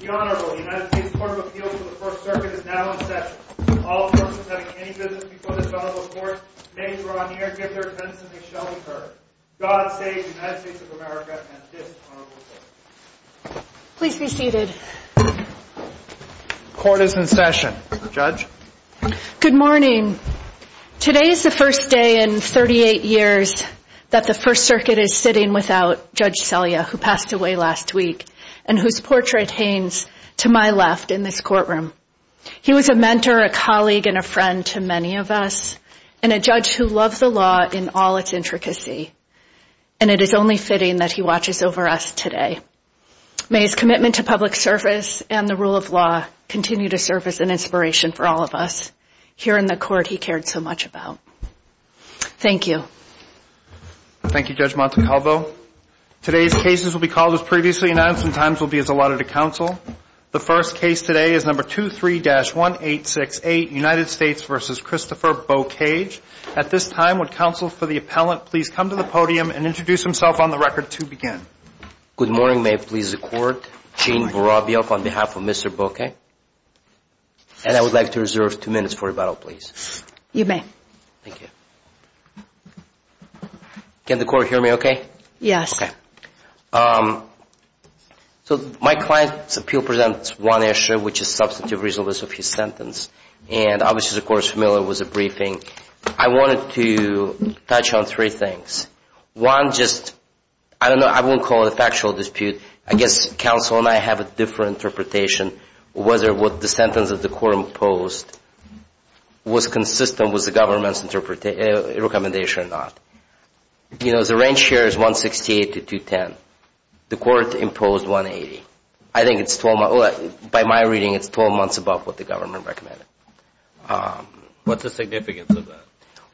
The Honorable United States Court of Appeals to the First Circuit is now in session. All persons having any business before this honorable court may draw near, give their attendance, and they shall be heard. God save the United States of America and this honorable court. Please be seated. Court is in session. Judge? Good morning. Today is the first day in 38 years that the First Circuit is sitting without Judge Selya, who passed away last week, and whose portrait hangs to my left in this courtroom. He was a mentor, a colleague, and a friend to many of us, and a judge who loved the law in all its intricacy. And it is only fitting that he watches over us today. May his commitment to public service and the rule of law continue to serve as an inspiration for all of us here in the court he cared so much about. Thank you. Thank you, Judge Montecalvo. Today's cases will be called as previously announced, and times will be as allotted to counsel. The first case today is No. 23-1868 United States v. Christopher Beaucage. At this time, would counsel for the appellant please come to the podium and introduce himself on the record to begin. Good morning. May it please the Court. Gene Borabiok on behalf of Mr. Beaucage. And I would like to reserve two minutes for rebuttal, please. You may. Thank you. Can the Court hear me okay? Yes. Okay. So my client's appeal presents one issue, which is substantive reasonableness of his sentence. And obviously the Court is familiar with the briefing. I wanted to touch on three things. One, just, I don't know, I won't call it a factual dispute. I guess counsel and I have a different interpretation whether what the sentence of the court imposed was consistent with the government's recommendation or not. You know, the range here is 168 to 210. The court imposed 180. I think it's, by my reading, it's 12 months above what the government recommended. What's the significance of that?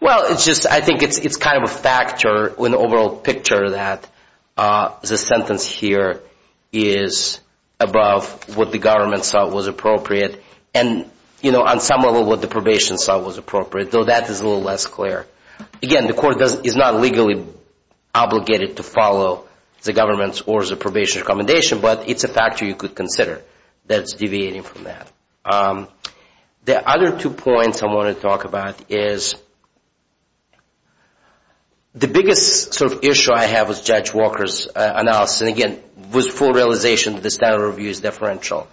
Well, it's just, I think it's kind of a factor in the overall picture that the sentence here is above what the government saw was appropriate, and you know, on some level what the probation saw was appropriate, though that is a little less clear. Again, the court is not legally obligated to follow the government's or the probation's recommendation, but it's a factor you could consider that's deviating from that. The other two points I want to talk about is the biggest sort of issue I have with Judge Walker's analysis, and again, with full realization that the standard of review is deferential,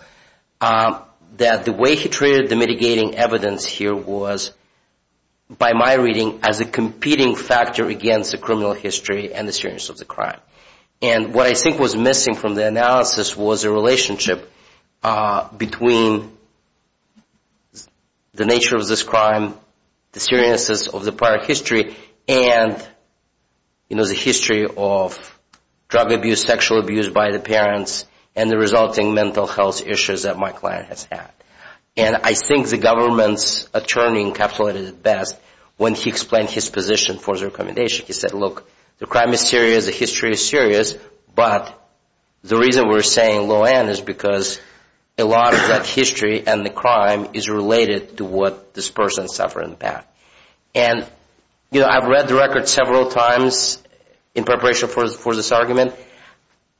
that the way he treated the mitigating evidence here was, by my reading, as a competing factor against the criminal history and the seriousness of the crime. And what I think was missing from the analysis was a relationship between the nature of this crime, the seriousness of the prior history, and the history of drug abuse, sexual abuse by the parents, and the resulting mental health issues that my client has had. And I think the government's attorney encapsulated it best when he explained his position for the recommendation. He said, look, the crime is serious, the history is serious, but the reason we're saying low end is because a lot of that history and the crime is related to what this person suffered in the past. And, you know, I've read the record several times in preparation for this argument.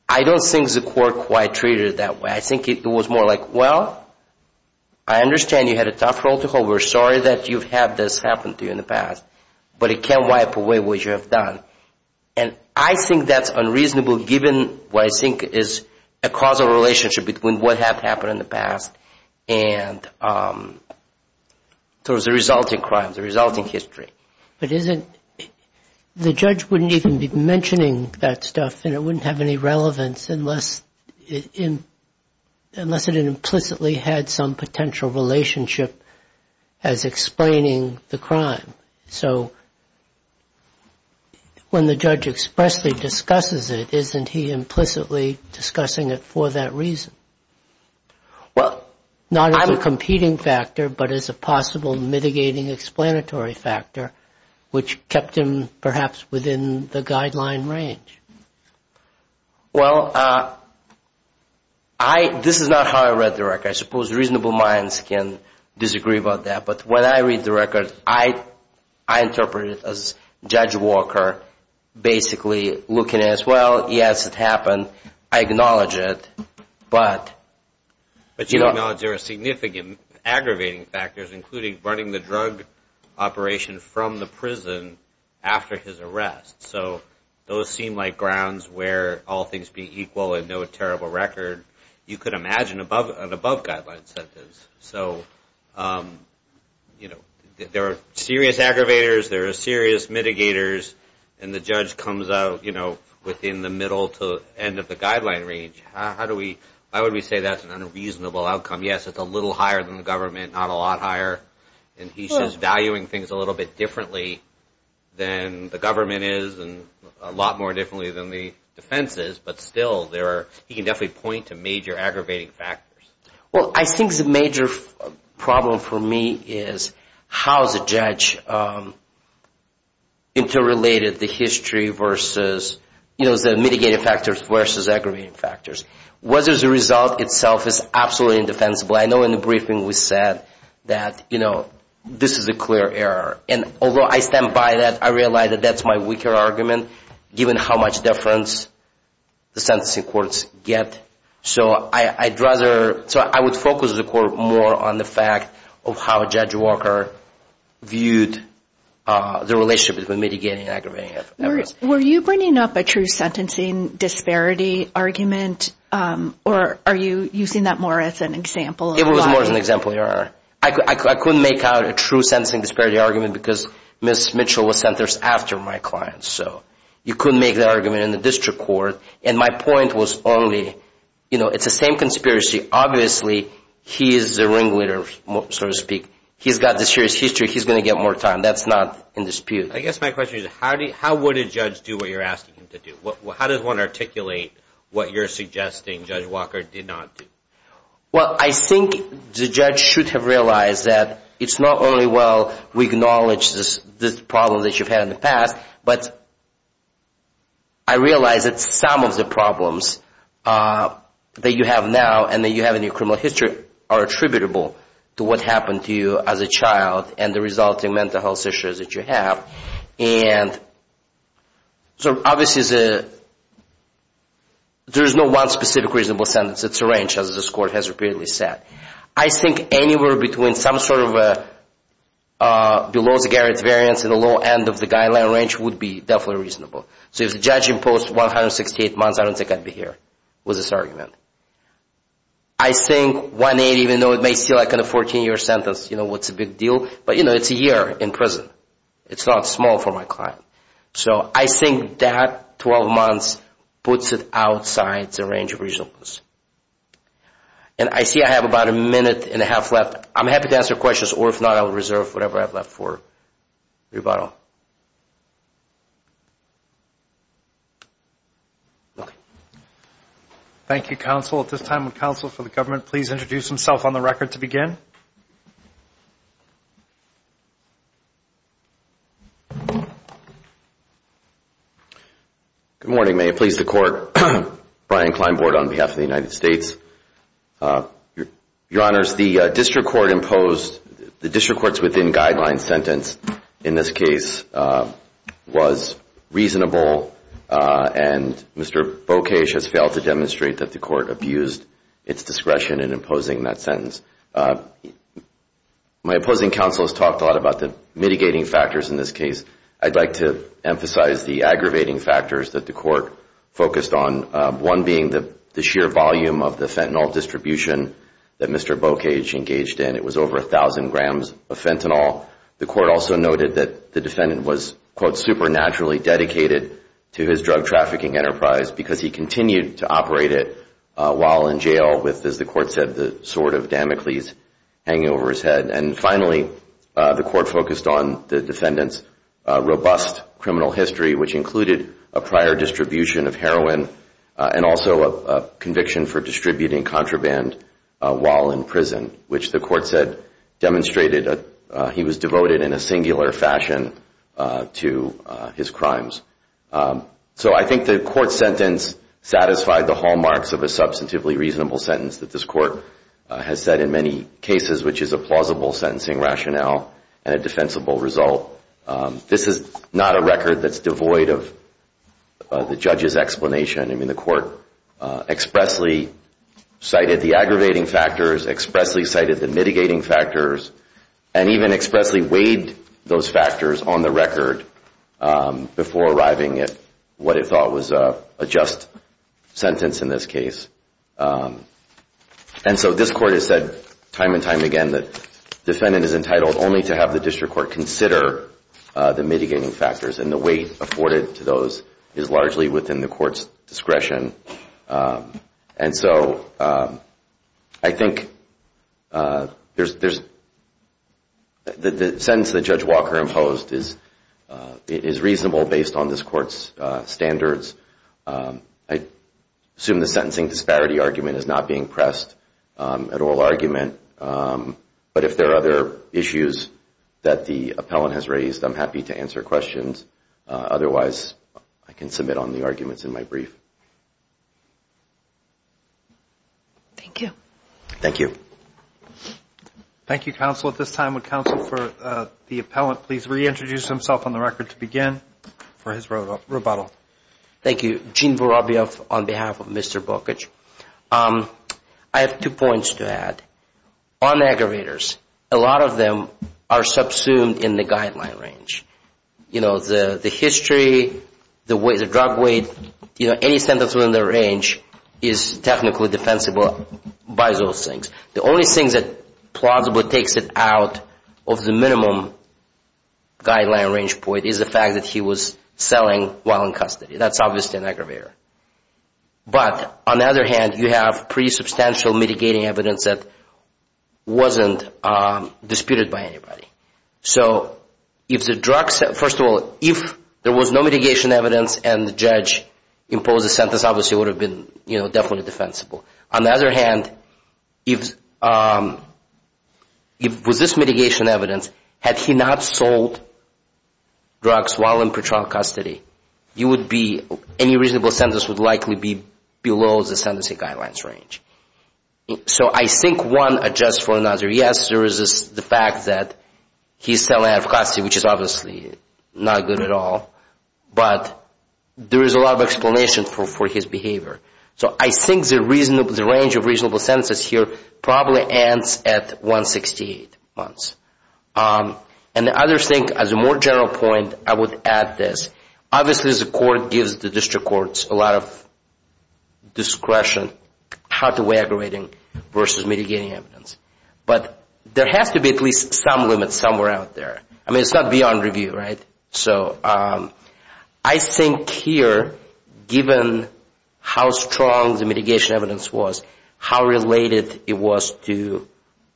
I don't think the court quite treated it that way. I think it was more like, well, I understand you had a tough protocol. We're sorry that you've had this happen to you in the past, but it can't wipe away what you have done. And I think that's unreasonable given what I think is a causal relationship between what has happened in the past and towards the resulting crime, the resulting history. But isn't, the judge wouldn't even be mentioning that stuff and it wouldn't have any relevance unless it implicitly had some potential relationship as explaining the crime. So when the judge expressly discusses it, isn't he implicitly discussing it for that reason? Well, not as a competing factor, but as a possible mitigating explanatory factor, which kept him, perhaps, within the guideline range. Well, I, this is not how I read the record. I suppose reasonable minds can disagree about that. But when I read the record, I interpret it as Judge Walker basically looking at it as, well, yes, it happened. I acknowledge it, but... But you acknowledge there are significant aggravating factors, including running the drug operation from the prison after his arrest. So those seem like grounds where all things be equal and no terrible record. You could imagine an above guideline sentence. So, you know, there are serious aggravators, there are serious mitigators, and the judge comes out, you know, within the middle to end of the guideline range. How do we, why would we say that's an unreasonable outcome? Yes, it's a little higher than the government, not a lot higher. And he's just valuing things a little bit differently than the government is, and a lot more differently than the defense is. But still, there are, he can definitely point to major aggravating factors. Well, I think the major problem for me is how the judge interrelated the history versus, you know, the mitigating factors versus aggravating factors. Whether the result itself is absolutely indefensible. I know in the briefing we said that, you know, this is a clear error. And although I stand by that, I realize that that's my weaker argument given how much difference the sentencing courts get. So I'd rather, so I would focus the court more on the fact of how Judge Walker viewed the relationship between mitigating and aggravating. Were you bringing up a true sentencing disparity argument, or are you using that more as an example? It was more as an example, Your Honor. I couldn't make out a true sentencing disparity argument because Ms. Mitchell was sentenced after my client. So you couldn't make that argument in the district court. And my point was only, you know, it's the same conspiracy. Obviously, he is the ringleader, so to speak. He's got the serious history. He's going to get more time. That's not in dispute. I guess my question is how would a judge do what you're asking him to do? How does one articulate what you're suggesting Judge Walker did not do? Well, I think the judge should have realized that it's not only well we acknowledge this problem that you've had in the past, but I realize that some of the problems that you have now and that you have in your criminal history are attributable to what happened to you as a child and the resulting mental health issues that you have. And so obviously, there is no one specific reasonable sentence. It's a range, as this Court has repeatedly said. I think anywhere between some sort of below-the-guarantee variance in the low end of the guideline range would be definitely reasonable. So if the judge imposed 168 months, I don't think I'd be here with this argument. I think 180, even though it may seem like a 14-year sentence, you know, what's the big deal? But, you know, it's a year in prison. It's not small for my client. So I think that 12 months puts it outside the range of reasonableness. And I see I have about a minute and a half left. I'm happy to answer questions, or if not, I'll reserve whatever I have left for rebuttal. Okay. Thank you, Counsel. At this time, would Counsel for the Government please introduce himself on the record to begin? Good morning, may it please the Court. Brian Kleinbord on behalf of the United States. Your Honors, the District Court's within-guidelines sentence in this case was reasonable, and Mr. Bokesh has failed to demonstrate that the Court abused its discretion in imposing that sentence. My opposing counsel has talked a lot about the mitigating factors in this case. I'd like to emphasize the aggravating factors that the Court focused on, one being the sheer volume of the fentanyl distribution that Mr. Bokesh engaged in. It was over 1,000 grams of fentanyl. The Court also noted that the defendant was, quote, supernaturally dedicated to his drug trafficking enterprise because he continued to operate it while in jail with, as the Court said, the sword of Damocles hanging over his head. And finally, the Court focused on the defendant's robust criminal history, which included a prior distribution of heroin and also a conviction for distributing contraband while in prison, which the Court said demonstrated he was devoted in a singular fashion to his crimes. So I think the Court's sentence satisfied the hallmarks of a substantively reasonable sentence that this Court has said in many cases, which is a plausible sentencing rationale and a defensible result. This is not a record that's devoid of the judge's explanation. I mean, the Court expressly cited the aggravating factors, expressly cited the mitigating factors, and even expressly weighed those factors on the record before arriving at what it thought was a just sentence in this case. And so this Court has said time and time again that defendant is entitled only to have the district court consider the mitigating factors, and the weight afforded to those is largely within the Court's discretion. And so I think there's the sentence that Judge Walker imposed is reasonable based on this Court's standards. I assume the sentencing disparity argument is not being pressed at oral argument, but if there are other issues that the appellant has raised, I'm happy to answer questions. Otherwise, I can submit on the arguments in my brief. Thank you. Thank you. Thank you, Counsel. At this time, would Counsel for the appellant please reintroduce himself on the record to begin for his rebuttal. Thank you. Gene Vorobiev on behalf of Mr. Bokich. I have two points to add. On aggravators, a lot of them are subsumed in the guideline range. You know, the history, the drug weight, you know, any sentence within the range is technically defensible by those things. The only thing that plausibly takes it out of the minimum guideline range point is the fact that he was selling while in custody. That's obviously an aggravator. But on the other hand, you have pretty substantial mitigating evidence that wasn't disputed by anybody. So if the drugs, first of all, if there was no mitigation evidence and the judge imposed a sentence, obviously it would have been, you know, definitely defensible. On the other hand, if with this mitigation evidence, had he not sold drugs while in pretrial custody, you would be, any reasonable sentence would likely be below the sentencing guidelines range. So I think one adjusts for another. Yes, there is the fact that he's selling out of custody, which is obviously not good at all. But there is a lot of explanation for his behavior. So I think the range of reasonable sentences here probably ends at 168 months. And the other thing, as a more general point, I would add this. Obviously the court gives the district courts a lot of discretion how to weigh aggravating versus mitigating evidence. But there has to be at least some limit somewhere out there. I mean, it's not beyond review, right? So I think here given how strong the mitigation evidence was, how related it was to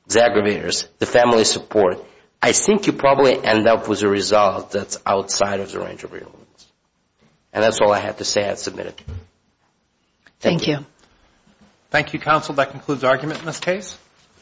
the aggravators, the family support, I think you probably end up with a result that's outside of the range of reasonable sentences. And that's all I have to say. I submit it. Thank you. Thank you, counsel. That concludes argument in this case.